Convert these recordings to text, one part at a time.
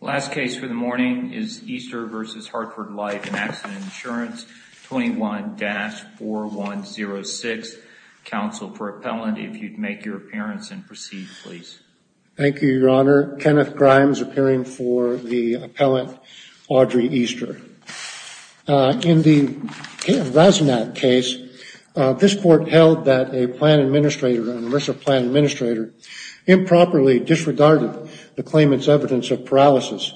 Last case for the morning is Easter v. Hartford Life and Accident Insurance, 21-4106. Counsel for appellant, if you'd make your appearance and proceed, please. Thank you, Your Honor. Kenneth Grimes appearing for the appellant, Audrey Easter. In the Rasnack case, this court held that a plan administrator, an immersive plan administrator, improperly disregarded the claimant's evidence of paralysis.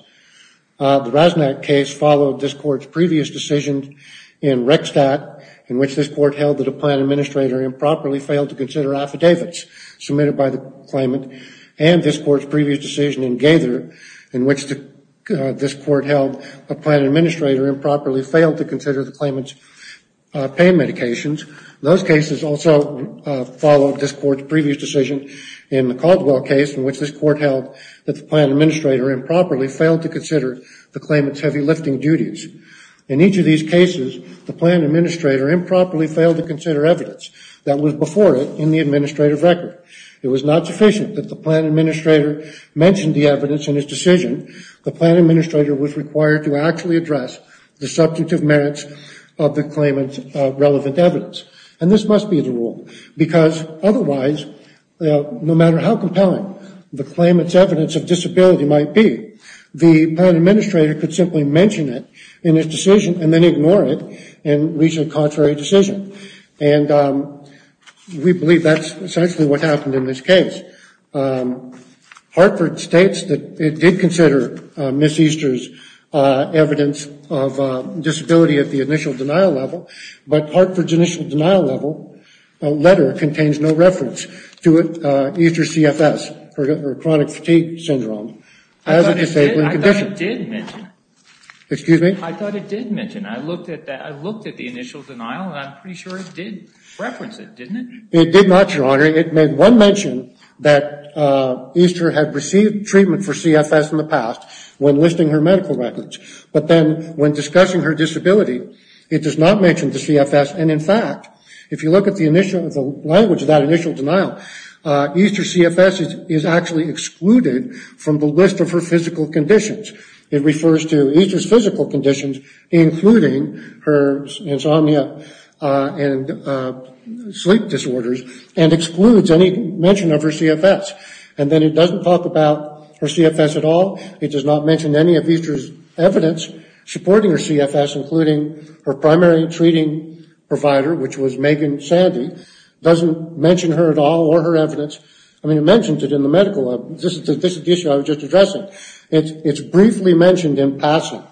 The Rasnack case followed this court's previous decision in Rextat, in which this court held that a plan administrator improperly failed to consider affidavits submitted by the claimant, and this court's previous decision in Gaither, in which this court held a plan administrator improperly failed to consider the claimant's pain medications. Those cases also followed this court's previous decision in the Caldwell case, in which this court held that the plan administrator improperly failed to consider the claimant's heavy lifting duties. In each of these cases, the plan administrator improperly failed to consider evidence that was before it in the administrative record. It was not sufficient that the plan administrator mentioned the evidence in his decision. The plan administrator was required to actually address the substantive merits of the claimant's relevant evidence. And this must be the rule, because otherwise, no matter how compelling the claimant's evidence of disability might be, the plan administrator could simply mention it in his decision and then ignore it and reach a contrary decision. And we believe that's essentially what happened in this case. Hartford states that it did consider Ms. Easter's evidence of disability at the initial denial level, but Hartford's initial denial level letter contains no reference to Easter CFS, or chronic fatigue syndrome, as a disabling condition. I thought it did mention. Excuse me? I thought it did mention. I looked at the initial denial, and I'm pretty sure it did reference it, didn't it? It did not, Your Honor. It made one mention that Easter had received treatment for CFS in the past when listing her medical records. But then when discussing her disability, it does not mention the CFS. And, in fact, if you look at the language of that initial denial, Easter CFS is actually excluded from the list of her physical conditions. It refers to Easter's physical conditions, including her insomnia and sleep disorders, and excludes any mention of her CFS. And then it doesn't talk about her CFS at all. It does not mention any of Easter's evidence supporting her CFS, including her primary treating provider, which was Megan Sandy. It doesn't mention her at all or her evidence. I mean, it mentions it in the medical. This is the issue I was just addressing. It's briefly mentioned in passing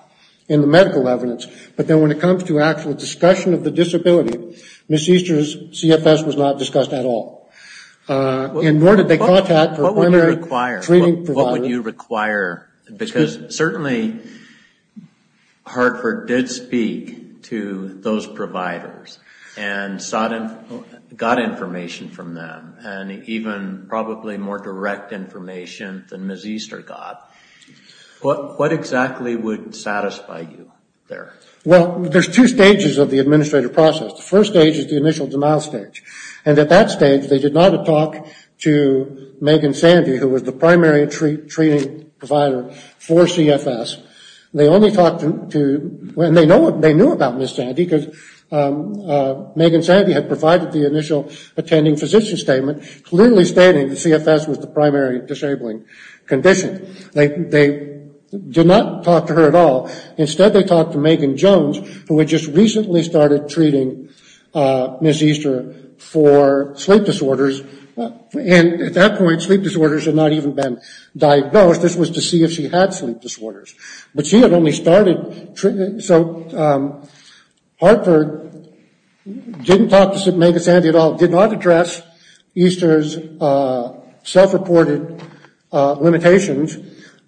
in the medical evidence, but then when it comes to actual discussion of the disability, Ms. Easter's CFS was not discussed at all. And nor did they contact her primary treating provider. What would you require? Because certainly Hartford did speak to those providers and got information from them, and even probably more direct information than Ms. Easter got. What exactly would satisfy you there? Well, there's two stages of the administrative process. The first stage is the initial denial stage. And at that stage, they did not talk to Megan Sandy, who was the primary treating provider for CFS. And they knew about Ms. Sandy because Megan Sandy had provided the initial attending physician statement, clearly stating that CFS was the primary disabling condition. They did not talk to her at all. Instead they talked to Megan Jones, who had just recently started treating Ms. Easter for sleep disorders. And at that point, sleep disorders had not even been diagnosed. This was to see if she had sleep disorders. But she had only started treating. So Hartford didn't talk to Megan Sandy at all, did not address Easter's self-reported limitations.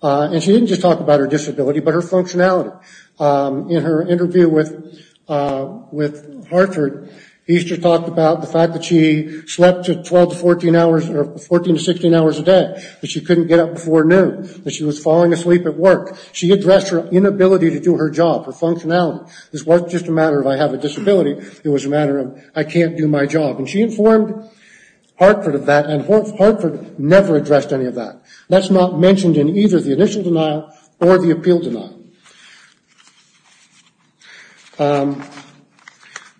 And she didn't just talk about her disability, but her functionality. In her interview with Hartford, Easter talked about the fact that she slept to 12 to 14 hours, or 14 to 16 hours a day, that she couldn't get up before noon, that she was falling asleep at work. She addressed her inability to do her job, her functionality. This wasn't just a matter of I have a disability. It was a matter of I can't do my job. And she informed Hartford of that, and Hartford never addressed any of that. That's not mentioned in either the initial denial or the appeal denial.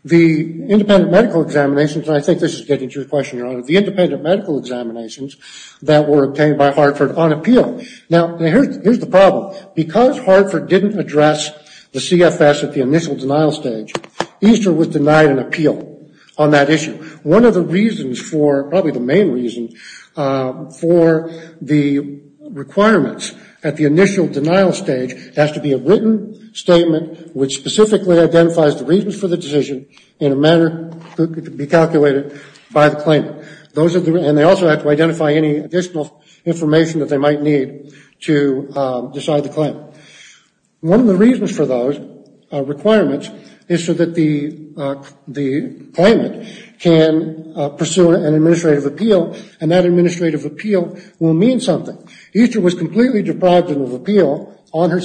The independent medical examinations, and I think this is getting to your question, Your Honor, the independent medical examinations that were obtained by Hartford on appeal. Now, here's the problem. Because Hartford didn't address the CFS at the initial denial stage, Easter was denied an appeal on that issue. One of the reasons for, probably the main reason for the requirements at the initial denial stage has to be a written statement which specifically identifies the reasons for the decision in a manner that could be calculated by the claimant. And they also have to identify any additional information that they might need to decide the claim. One of the reasons for those requirements is so that the claimant can pursue an administrative appeal, and that administrative appeal will mean something. Easter was completely deprived of appeal on the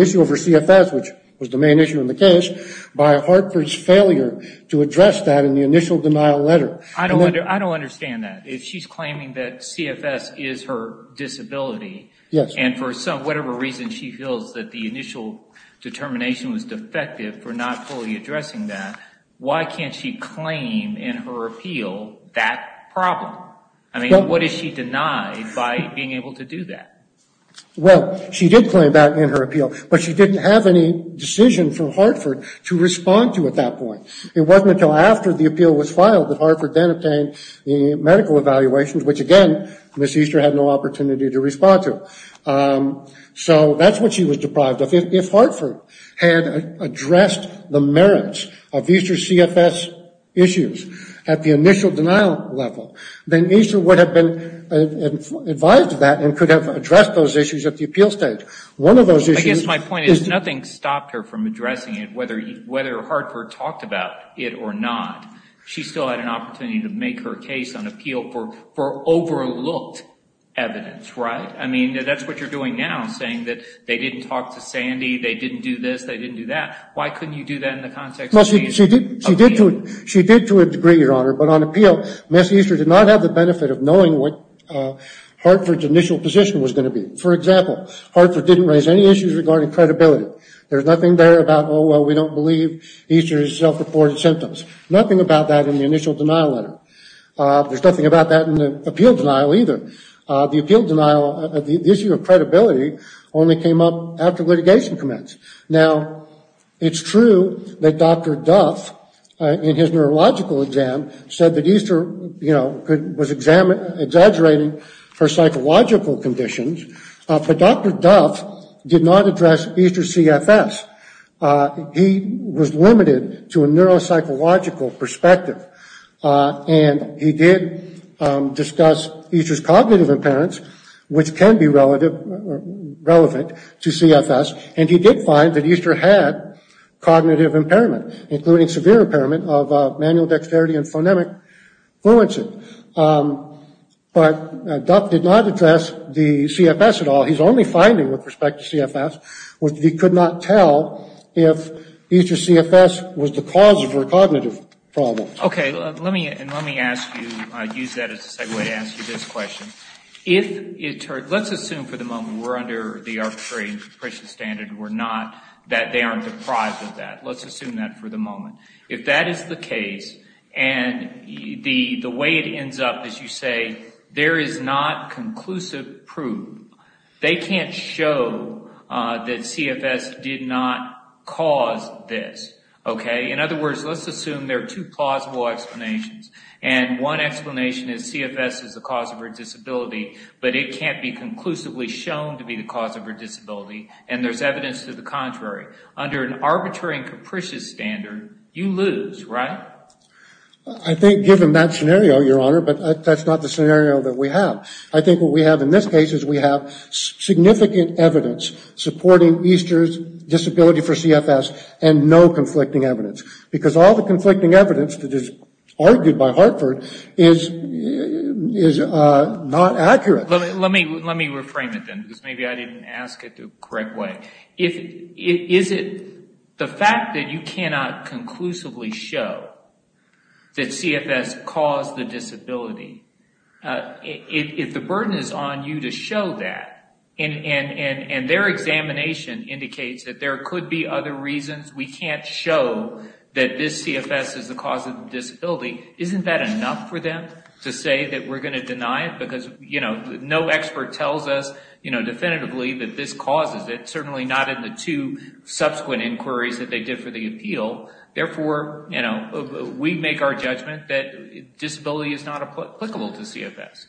issue of her CFS, which was the main issue in the case, by Hartford's failure to address that in the initial denial letter. I don't understand that. If she's claiming that CFS is her disability, and for whatever reason she feels that the initial determination was defective for not fully addressing that, why can't she claim in her appeal that problem? I mean, what is she denied by being able to do that? Well, she did claim that in her appeal, but she didn't have any decision from Hartford to respond to at that point. It wasn't until after the appeal was filed that Hartford then obtained the medical evaluations, which again, Ms. Easter had no opportunity to respond to. So that's what she was deprived of. But if Hartford had addressed the merits of Easter's CFS issues at the initial denial level, then Easter would have been advised of that and could have addressed those issues at the appeal stage. I guess my point is nothing stopped her from addressing it, whether Hartford talked about it or not. She still had an opportunity to make her case on appeal for overlooked evidence, right? I mean, that's what you're doing now, saying that they didn't talk to Sandy. They didn't do this. They didn't do that. Why couldn't you do that in the context of a case of appeal? She did to a degree, Your Honor, but on appeal, Ms. Easter did not have the benefit of knowing what Hartford's initial position was going to be. For example, Hartford didn't raise any issues regarding credibility. There's nothing there about, oh, well, we don't believe Easter's self-reported symptoms. Nothing about that in the initial denial letter. There's nothing about that in the appeal denial either. The appeal denial, the issue of credibility only came up after litigation commenced. Now, it's true that Dr. Duff, in his neurological exam, said that Easter, you know, was exaggerating her psychological conditions, but Dr. Duff did not address Easter's CFS. He was limited to a neuropsychological perspective, and he did discuss Easter's cognitive impairments, which can be relevant to CFS, and he did find that Easter had cognitive impairment, including severe impairment of manual dexterity and phonemic fluency. But Duff did not address the CFS at all. He's only finding, with respect to CFS, was that he could not tell if Easter's CFS was the cause of her cognitive problems. Okay. Let me ask you, use that as a segue to ask you this question. Let's assume for the moment we're under the arbitrary and capricious standard. We're not that they aren't deprived of that. Let's assume that for the moment. If that is the case, and the way it ends up is you say, there is not conclusive proof. They can't show that CFS did not cause this. Okay. In other words, let's assume there are two plausible explanations, and one explanation is CFS is the cause of her disability, but it can't be conclusively shown to be the cause of her disability, and there's evidence to the contrary. Under an arbitrary and capricious standard, you lose, right? I think given that scenario, Your Honor, but that's not the scenario that we have. I think what we have in this case is we have significant evidence supporting Easter's disability for CFS and no conflicting evidence. Because all the conflicting evidence that is argued by Hartford is not accurate. Let me reframe it then, because maybe I didn't ask it the correct way. Is it the fact that you cannot conclusively show that CFS caused the disability, if the burden is on you to show that, and their examination indicates that there could be other reasons we can't show that this CFS is the cause of the disability, isn't that enough for them to say that we're going to deny it? Because no expert tells us definitively that this causes it, certainly not in the two subsequent inquiries that they did for the appeal. Therefore, we make our judgment that disability is not applicable to CFS.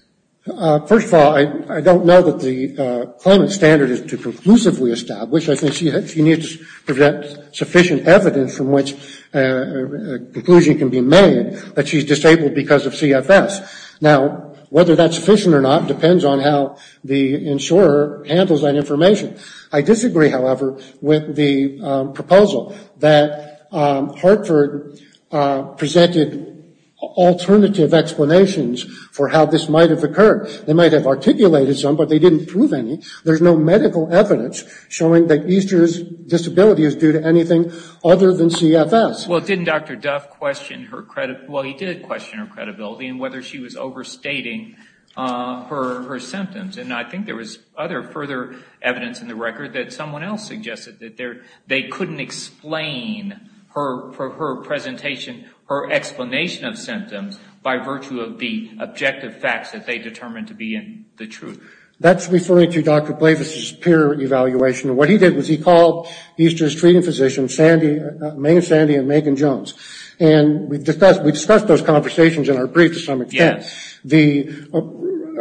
First of all, I don't know that the claimant's standard is to conclusively establish. I think she needs sufficient evidence from which a conclusion can be made that she's disabled because of CFS. Now, whether that's sufficient or not depends on how the insurer handles that information. I disagree, however, with the proposal that Hartford presented alternative explanations for how this might have occurred. They might have articulated some, but they didn't prove any. There's no medical evidence showing that Easter's disability is due to anything other than CFS. Well, didn't Dr. Duff question her credibility? Well, he did question her credibility and whether she was overstating her symptoms. And I think there was other further evidence in the record that someone else suggested that they couldn't explain her presentation, her explanation of symptoms by virtue of the objective facts that they determined to be in the truth. That's referring to Dr. Blavis' peer evaluation. What he did was he called Easter's treating physician, Maine Sandy and Megan Jones, and we discussed those conversations in our brief to some extent. The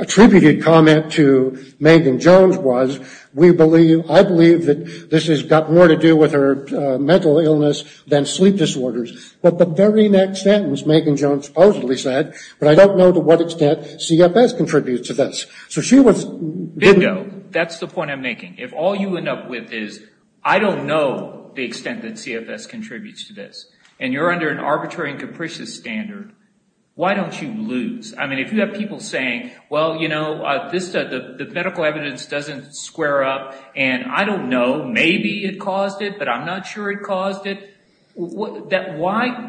attributed comment to Megan Jones was, I believe that this has got more to do with her mental illness than sleep disorders. But the very next sentence Megan Jones supposedly said, but I don't know to what extent CFS contributes to this. Bingo. That's the point I'm making. If all you end up with is, I don't know the extent that CFS contributes to this, and you're under an arbitrary and capricious standard, why don't you lose? I mean, if you have people saying, well, you know, the medical evidence doesn't square up, and I don't know, maybe it caused it, but I'm not sure it caused it, why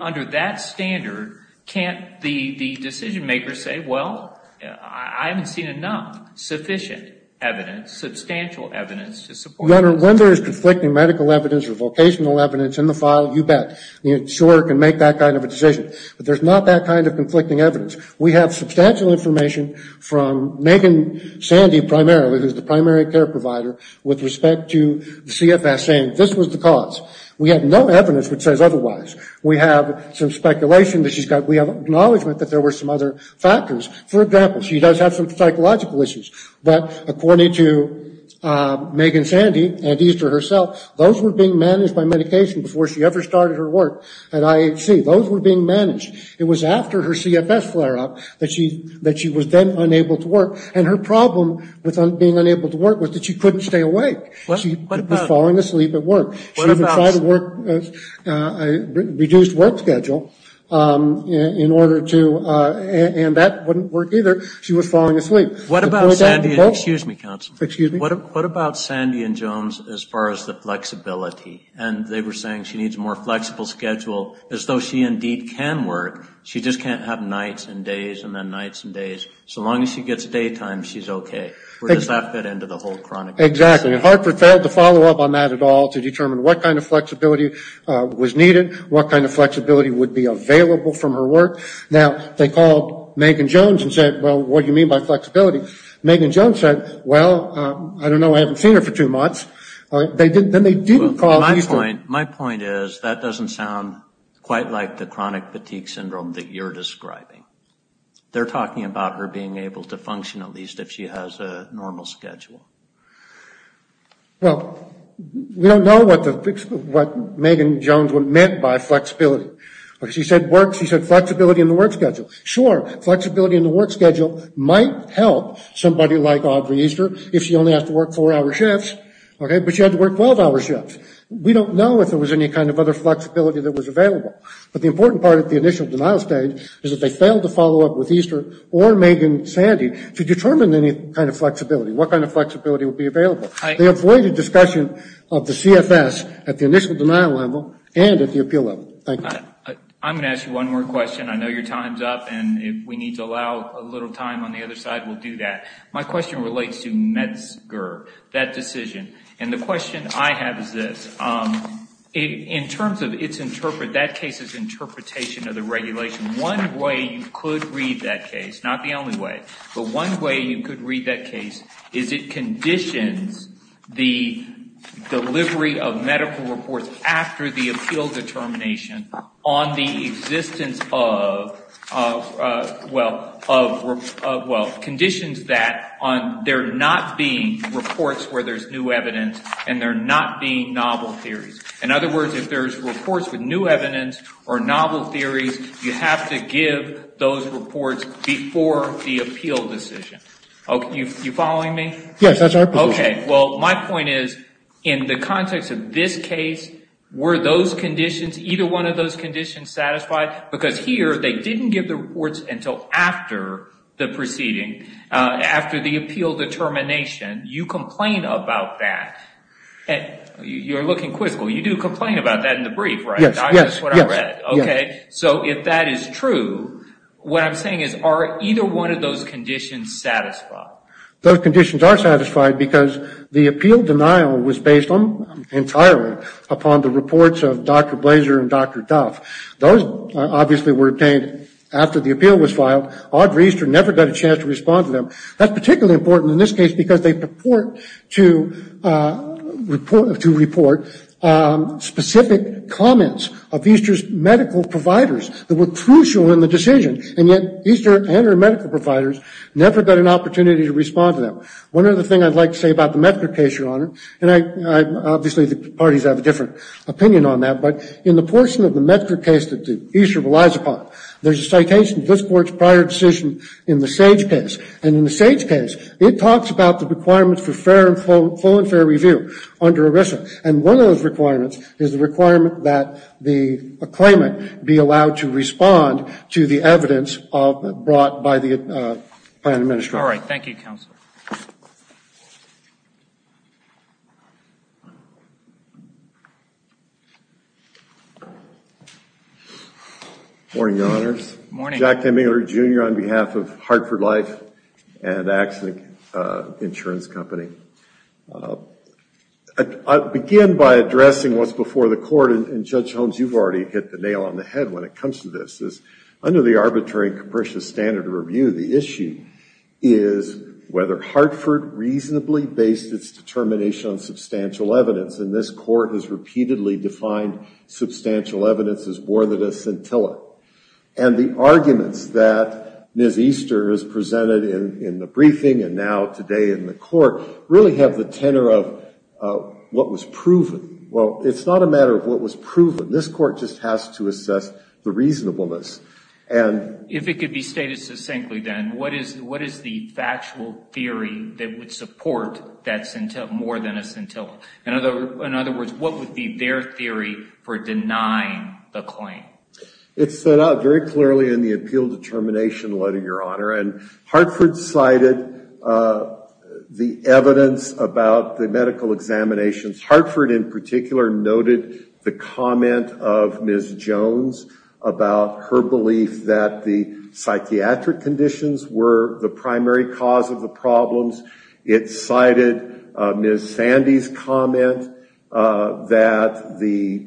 under that standard can't the decision makers say, well, I haven't seen enough sufficient evidence, substantial evidence to support this? Your Honor, when there is conflicting medical evidence or vocational evidence in the file, you bet. The insurer can make that kind of a decision. But there's not that kind of conflicting evidence. We have substantial information from Megan Sandy primarily, who's the primary care provider, with respect to CFS saying this was the cause. We have no evidence which says otherwise. We have some speculation that she's got, we have acknowledgement that there were some other factors. For example, she does have some psychological issues. But according to Megan Sandy and Easter herself, those were being managed by medication before she ever started her work at IHC. Those were being managed. It was after her CFS flare-up that she was then unable to work. And her problem with being unable to work was that she couldn't stay awake. She was falling asleep at work. She even tried to work, reduced work schedule in order to, and that wouldn't work either. She was falling asleep. What about Sandy? Excuse me, counsel. Excuse me. What about Sandy and Jones as far as the flexibility? And they were saying she needs a more flexible schedule, as though she indeed can work. She just can't have nights and days and then nights and days. So long as she gets daytime, she's okay. Or does that fit into the whole chronicle? Exactly. I mean, Hartford failed to follow up on that at all to determine what kind of flexibility was needed, what kind of flexibility would be available from her work. Now, they called Megan Jones and said, well, what do you mean by flexibility? Megan Jones said, well, I don't know. I haven't seen her for two months. Then they didn't call Easter. My point is that doesn't sound quite like the chronic fatigue syndrome that you're describing. They're talking about her being able to function at least if she has a normal schedule. Well, we don't know what Megan Jones meant by flexibility. She said flexibility in the work schedule. Sure, flexibility in the work schedule might help somebody like Audrey Easter if she only has to work four-hour shifts, but she had to work 12-hour shifts. We don't know if there was any kind of other flexibility that was available. But the important part at the initial denial stage is that they failed to follow up with Easter or Megan Sandy to determine any kind of flexibility, what kind of flexibility would be available. They avoided discussion of the CFS at the initial denial level and at the appeal level. Thank you. I'm going to ask you one more question. I know your time's up, and if we need to allow a little time on the other side, we'll do that. My question relates to METSGR, that decision. And the question I have is this. In terms of that case's interpretation of the regulation, one way you could read that case, not the only way, but one way you could read that case is it conditions the delivery of medical reports after the appeal determination on the existence of conditions that there not being reports where there's new evidence and there not being novel theories. In other words, if there's reports with new evidence or novel theories, you have to give those reports before the appeal decision. Are you following me? Yes, that's our position. Okay. Well, my point is in the context of this case, were those conditions, either one of those conditions satisfied? Because here they didn't give the reports until after the proceeding, after the appeal determination. You complain about that. You're looking quizzical. You do complain about that in the brief, right? Yes, yes. That's what I read. Okay. So if that is true, what I'm saying is are either one of those conditions satisfied? Those conditions are satisfied because the appeal denial was based entirely upon the reports of Dr. Blaser and Dr. Duff. Those obviously were obtained after the appeal was filed. Audra Easter never got a chance to respond to them. That's particularly important in this case because they purport to report specific comments of Easter's medical providers that were crucial in the decision, and yet Easter and her medical providers never got an opportunity to respond to them. One other thing I'd like to say about the Medgar case, Your Honor, and obviously the parties have a different opinion on that, but in the portion of the Medgar case that Easter relies upon, there's a citation of this court's prior decision in the Sage case, and in the Sage case it talks about the requirements for full and fair review under ERISA, and one of those requirements is the requirement that the claimant be allowed to respond to the evidence brought by the Planned Administration. All right. Thank you, Counsel. Good morning, Your Honors. Good morning. Jack Demingler, Jr., on behalf of Hartford Life and Axne Insurance Company. I'll begin by addressing what's before the court, and Judge Holmes, you've already hit the nail on the head when it comes to this. Under the arbitrary and capricious standard of review, the issue is whether Hartford reasonably based its determination on substantial evidence, and this court has repeatedly defined substantial evidence as more than a scintilla, and the arguments that Ms. Easter has presented in the briefing and now today in the court really have the tenor of what was proven. Well, it's not a matter of what was proven. This court just has to assess the reasonableness. If it could be stated succinctly then, what is the factual theory that would support that more than a scintilla? In other words, what would be their theory for denying the claim? It's set out very clearly in the appeal determination letter, Your Honor, and Hartford cited the evidence about the medical examinations. Hartford in particular noted the comment of Ms. Jones about her belief that the psychiatric conditions were the primary cause of the problems. It cited Ms. Sandy's comment that the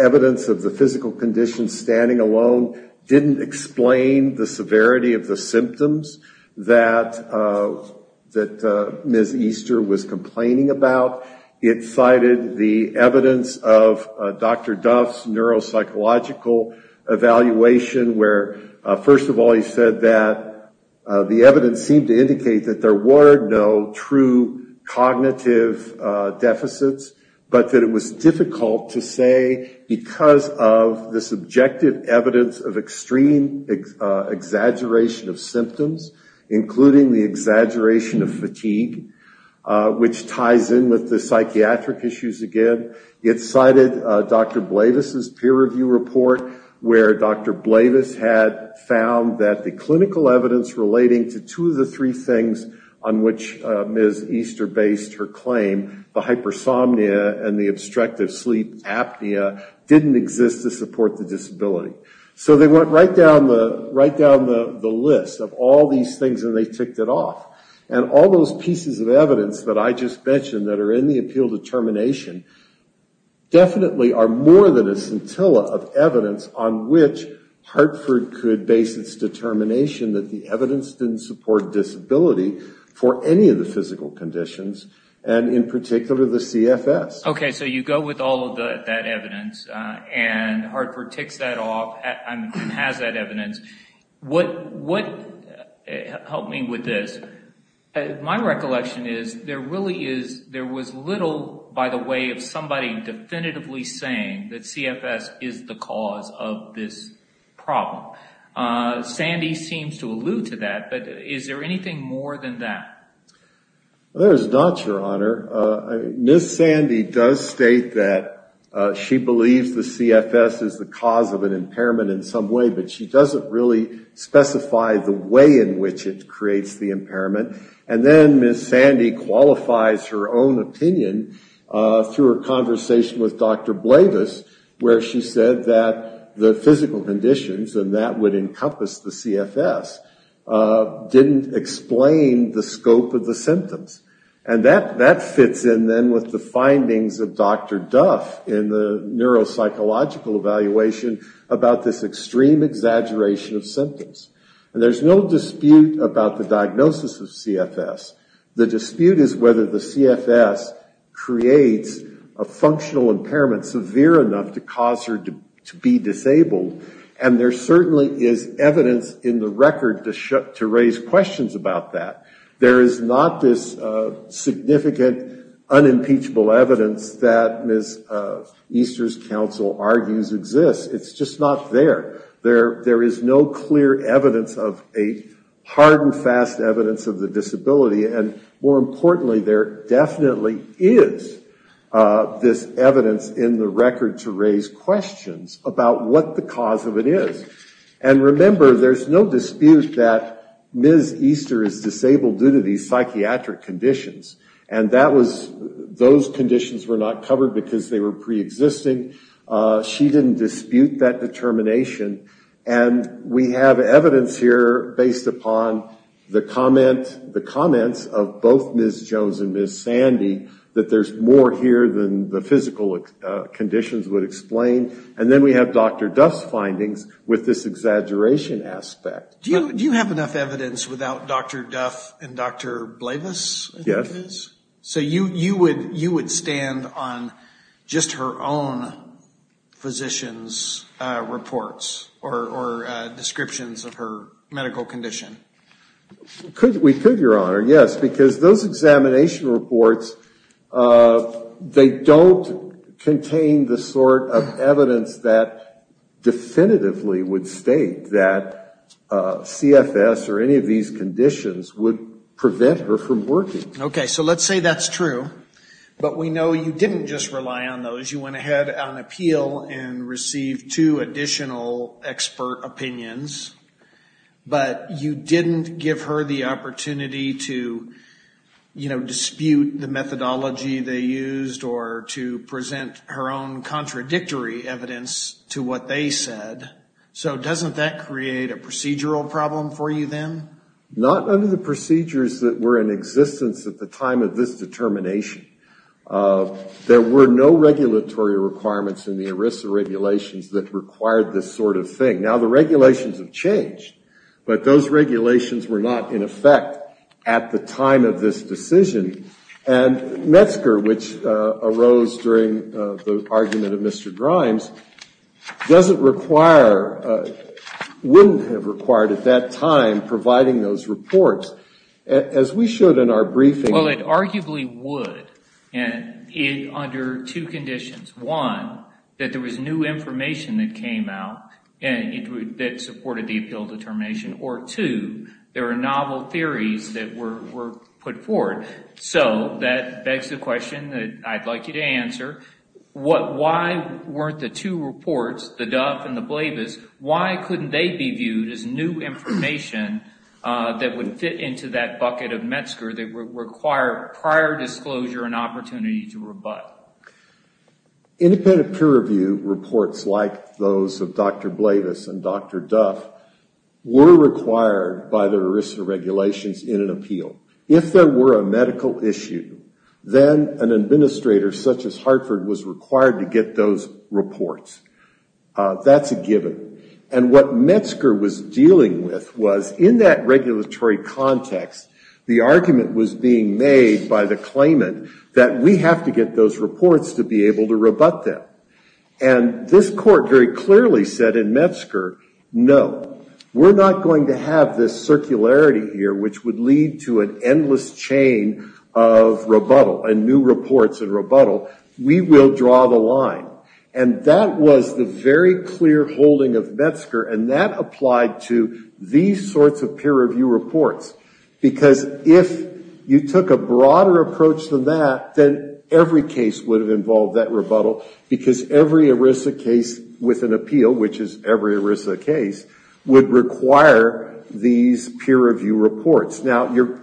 evidence of the physical conditions standing alone didn't explain the severity of the symptoms that Ms. Easter was complaining about. It cited the evidence of Dr. Duff's neuropsychological evaluation where, first of all, he said that the evidence seemed to indicate that there were no true cognitive deficits, but that it was difficult to say because of the subjective evidence of extreme exaggeration of symptoms, including the exaggeration of fatigue, which ties in with the psychiatric issues again. It cited Dr. Blavis' peer review report where Dr. Blavis had found that the clinical evidence relating to two of the three things on which Ms. Easter based her claim, the hypersomnia and the obstructive sleep apnea, didn't exist to support the disability. So they went right down the list of all these things and they ticked it off. And all those pieces of evidence that I just mentioned that are in the appeal determination definitely are more than a scintilla of evidence on which Hartford could base its determination that the evidence didn't support disability for any of the physical conditions, and in particular the CFS. Okay, so you go with all of that evidence and Hartford ticks that off and has that evidence. What helped me with this, my recollection is there was little, by the way, of somebody definitively saying that CFS is the cause of this problem. Sandy seems to allude to that, but is there anything more than that? There is not, Your Honor. Ms. Sandy does state that she believes the CFS is the cause of an impairment in some way, but she doesn't really specify the way in which it creates the impairment. And then Ms. Sandy qualifies her own opinion through a conversation with Dr. Blavis, where she said that the physical conditions, and that would encompass the CFS, didn't explain the scope of the symptoms. And that fits in then with the findings of Dr. Duff in the neuropsychological evaluation about this extreme exaggeration of symptoms. And there's no dispute about the diagnosis of CFS. The dispute is whether the CFS creates a functional impairment severe enough to cause her to be disabled, and there certainly is evidence in the record to raise questions about that. There is not this significant, unimpeachable evidence that Ms. Easter's counsel argues exists. It's just not there. There is no clear evidence of a hard and fast evidence of the disability, and more importantly, there definitely is this evidence in the record to raise questions about what the cause of it is. And remember, there's no dispute that Ms. Easter is disabled due to these psychiatric conditions, and those conditions were not covered because they were preexisting. She didn't dispute that determination. And we have evidence here based upon the comments of both Ms. Jones and Ms. Sandy that there's more here than the physical conditions would explain. And then we have Dr. Duff's findings with this exaggeration aspect. Do you have enough evidence without Dr. Duff and Dr. Blavis? Yes. So you would stand on just her own physician's reports or descriptions of her medical condition? We could, Your Honor, yes. Because those examination reports, they don't contain the sort of evidence that definitively would state that CFS or any of these conditions would prevent her from working. Okay, so let's say that's true, but we know you didn't just rely on those. You went ahead on appeal and received two additional expert opinions, but you didn't give her the opportunity to dispute the methodology they used or to present her own contradictory evidence to what they said. So doesn't that create a procedural problem for you then? Not under the procedures that were in existence at the time of this determination. There were no regulatory requirements in the ERISA regulations that required this sort of thing. Now the regulations have changed, but those regulations were not in effect at the time of this decision. And Metzger, which arose during the argument of Mr. Grimes, doesn't require, wouldn't have required at that time providing those reports as we should in our briefing. Well, it arguably would under two conditions. One, that there was new information that came out that supported the appeal determination, or two, there are novel theories that were put forward. So that begs the question that I'd like you to answer. Why weren't the two reports, the Duff and the Blavis, why couldn't they be viewed as new information that would fit into that bucket of Metzger that would require prior disclosure and opportunity to rebut? Independent peer review reports like those of Dr. Blavis and Dr. Duff were required by the ERISA regulations in an appeal. If there were a medical issue, then an administrator such as Hartford was required to get those reports. That's a given. And what Metzger was dealing with was in that regulatory context, the argument was being made by the claimant that we have to get those reports to be able to rebut them. And this court very clearly said in Metzger, no, we're not going to have this circularity here which would lead to an endless chain of rebuttal and new reports and rebuttal. We will draw the line. And that was the very clear holding of Metzger, and that applied to these sorts of peer review reports. Because if you took a broader approach than that, then every case would have involved that rebuttal because every ERISA case with an appeal, which is every ERISA case, would require these peer review reports. Now, you've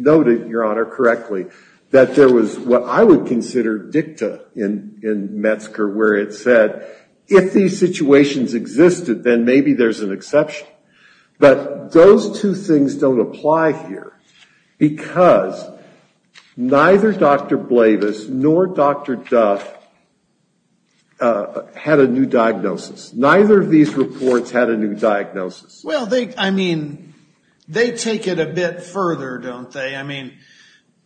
noted, Your Honor, correctly, that there was what I would consider dicta in Metzger where it said if these situations existed, then maybe there's an exception. But those two things don't apply here because neither Dr. Blavis nor Dr. Duff had a new diagnosis. Neither of these reports had a new diagnosis. Well, they, I mean, they take it a bit further, don't they? I mean,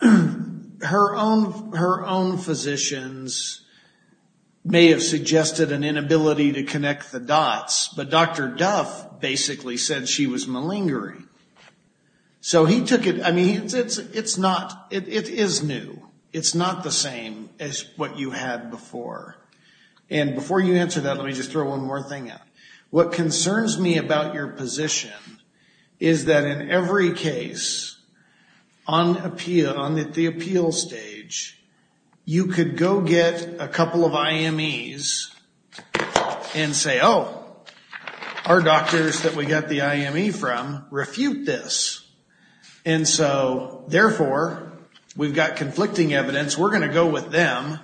her own physicians may have suggested an inability to connect the dots, but Dr. Duff basically said she was malingering. So he took it, I mean, it's not, it is new. It's not the same as what you had before. And before you answer that, let me just throw one more thing out. What concerns me about your position is that in every case on appeal, on the appeal stage, you could go get a couple of IMEs and say, oh, our doctors that we got the IME from refute this. And so, therefore, we've got conflicting evidence. We're going to go with them.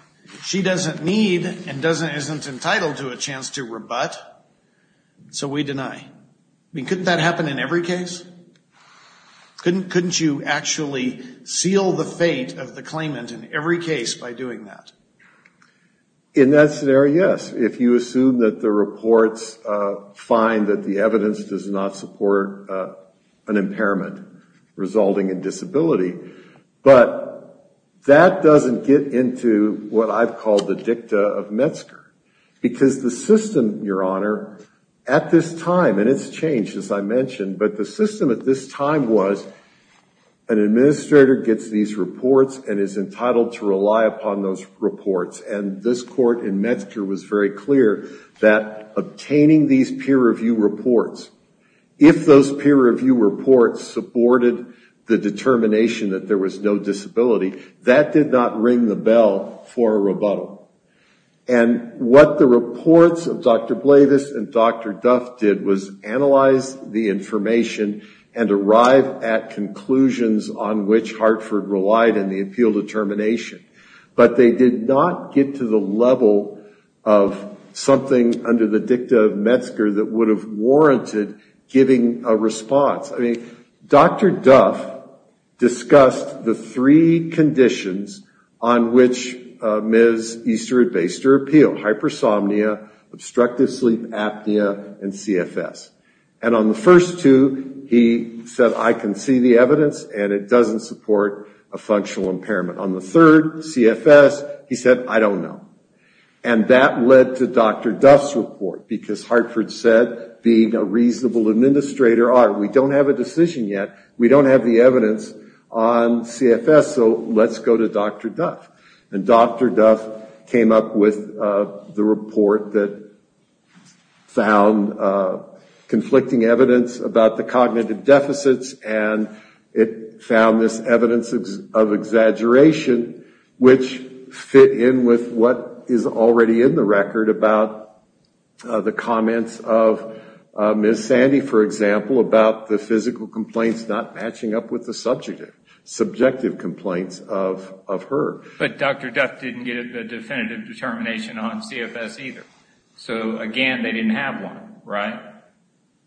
She doesn't need and isn't entitled to a chance to rebut, so we deny. I mean, couldn't that happen in every case? Couldn't you actually seal the fate of the claimant in every case by doing that? In that scenario, yes. If you assume that the reports find that the evidence does not support an impairment resulting in disability. But that doesn't get into what I've called the dicta of Metzger. Because the system, Your Honor, at this time, and it's changed, as I mentioned, but the system at this time was an administrator gets these reports and is entitled to rely upon those reports. And this court in Metzger was very clear that obtaining these peer review reports, if those peer review reports supported the determination that there was no disability, that did not ring the bell for a rebuttal. And what the reports of Dr. Blavis and Dr. Duff did was analyze the information and arrive at conclusions on which Hartford relied in the appeal determination. But they did not get to the level of something under the dicta of Metzger that would have warranted giving a response. I mean, Dr. Duff discussed the three conditions on which Ms. Easter had based her appeal, hypersomnia, obstructive sleep apnea, and CFS. And on the first two, he said, I can see the evidence and it doesn't support a functional impairment. On the third, CFS, he said, I don't know. And that led to Dr. Duff's report, because Hartford said, being a reasonable administrator, all right, we don't have a decision yet, we don't have the evidence on CFS, so let's go to Dr. Duff. And Dr. Duff came up with the report that found conflicting evidence about the cognitive deficits and it found this evidence of exaggeration, which fit in with what is already in the record about the comments of Ms. Sandy, for example, about the physical complaints not matching up with the subjective complaints of her. But Dr. Duff didn't get a definitive determination on CFS either. So, again, they didn't have one, right?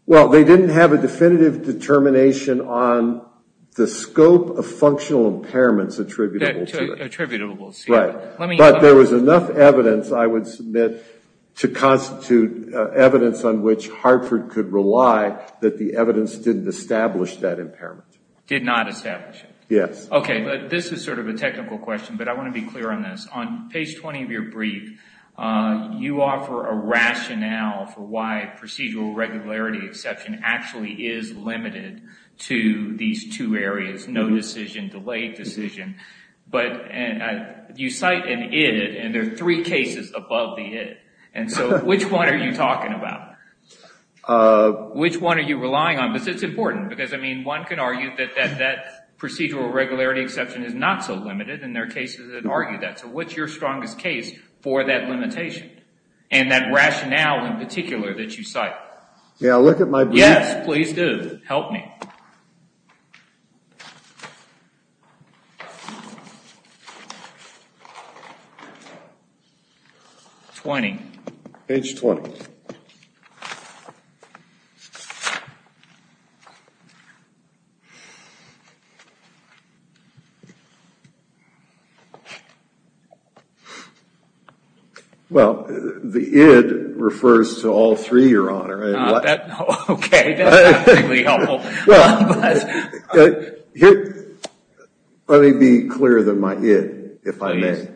Well, they didn't have a definitive determination on the scope of functional impairments attributable to it. Attributable to CFS. Right. But there was enough evidence, I would submit, to constitute evidence on which Hartford could rely that the evidence didn't establish that impairment. Did not establish it. Yes. Okay, this is sort of a technical question, but I want to be clear on this. On page 20 of your brief, you offer a rationale for why procedural regularity exception actually is limited to these two areas, no decision, delayed decision. But you cite an id, and there are three cases above the id. And so which one are you talking about? Which one are you relying on? Because it's important. Because, I mean, one can argue that that procedural regularity exception is not so limited, and there are cases that argue that. So what's your strongest case for that limitation and that rationale in particular that you cite? Yeah, look at my brief. Yes, please do. Help me. 20. Page 20. Well, the id refers to all three, Your Honor. Okay, that's really helpful. Let me be clearer than my id, if I may. Please.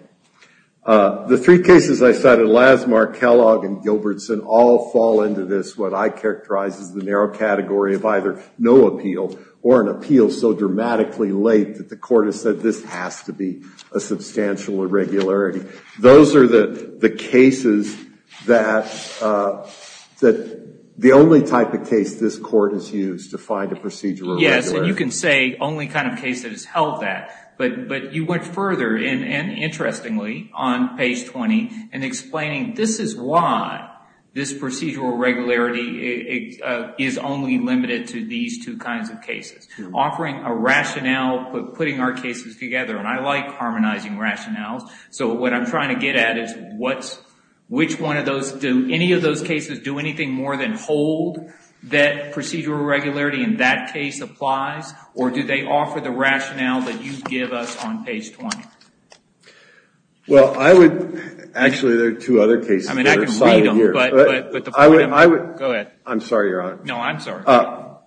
The three cases I cited, Lassmar, Kellogg, and Gilbertson, all fall into this, what I characterize as the narrow category of either no appeal or an appeal so dramatically late that the Court has said this has to be a substantial irregularity. Those are the cases that the only type of case this Court has used to find a procedural regularity. Yes, and you can say only kind of case that has held that. But you went further, and interestingly, on page 20, in explaining this is why this procedural regularity is only limited to these two kinds of cases, offering a rationale for putting our cases together. And I like harmonizing rationales. So what I'm trying to get at is which one of those, do any of those cases do anything more than hold that procedural regularity in that case applies, or do they offer the rationale that you give us on page 20? Well, I would, actually, there are two other cases that are cited here. I mean, I can read them, but the point of them, go ahead. I'm sorry, Your Honor. No, I'm sorry.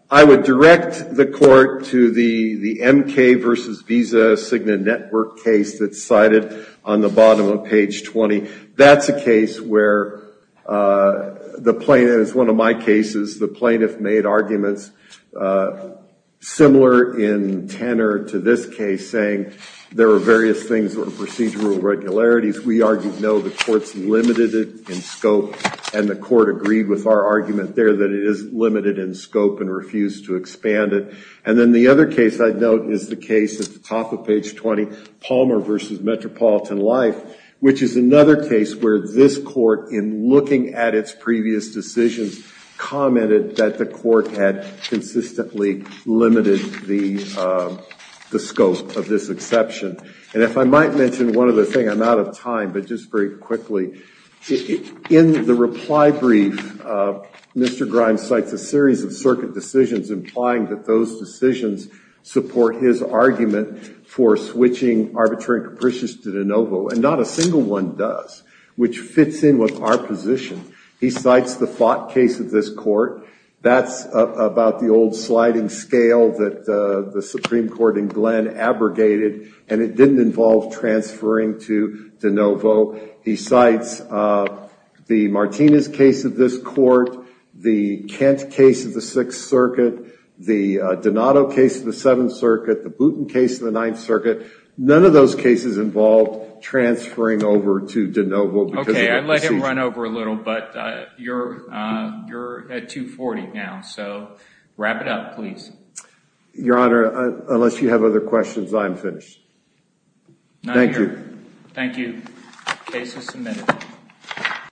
I would direct the Court to the MK versus Visa Cigna Network case that's cited on the bottom of page 20. That's a case where the plaintiff, it's one of my cases, the plaintiff made arguments similar in tenor to this case, saying there are various things that are procedural regularities. We argued no, the Court's limited it in scope, and the Court agreed with our argument there that it is limited in scope and refused to expand it. And then the other case I'd note is the case at the top of page 20, Palmer versus Metropolitan Life, which is another case where this Court, in looking at its previous decisions, commented that the Court had consistently limited the scope of this exception. And if I might mention one other thing, I'm out of time, but just very quickly. In the reply brief, Mr. Grimes cites a series of circuit decisions implying that those decisions support his argument for switching arbitrary and capricious to de novo, and not a single one does, which fits in with our position. He cites the Fott case of this Court. That's about the old sliding scale that the Supreme Court in Glenn abrogated, and it didn't involve transferring to de novo. He cites the Martinez case of this Court, the Kent case of the Sixth Circuit, the Donato case of the Seventh Circuit, the Booten case of the Ninth Circuit. None of those cases involved transferring over to de novo because of the procedure. Okay, I let him run over a little, but you're at 240 now, so wrap it up, please. Your Honor, unless you have other questions, I'm finished. Thank you. Thank you. Case is submitted.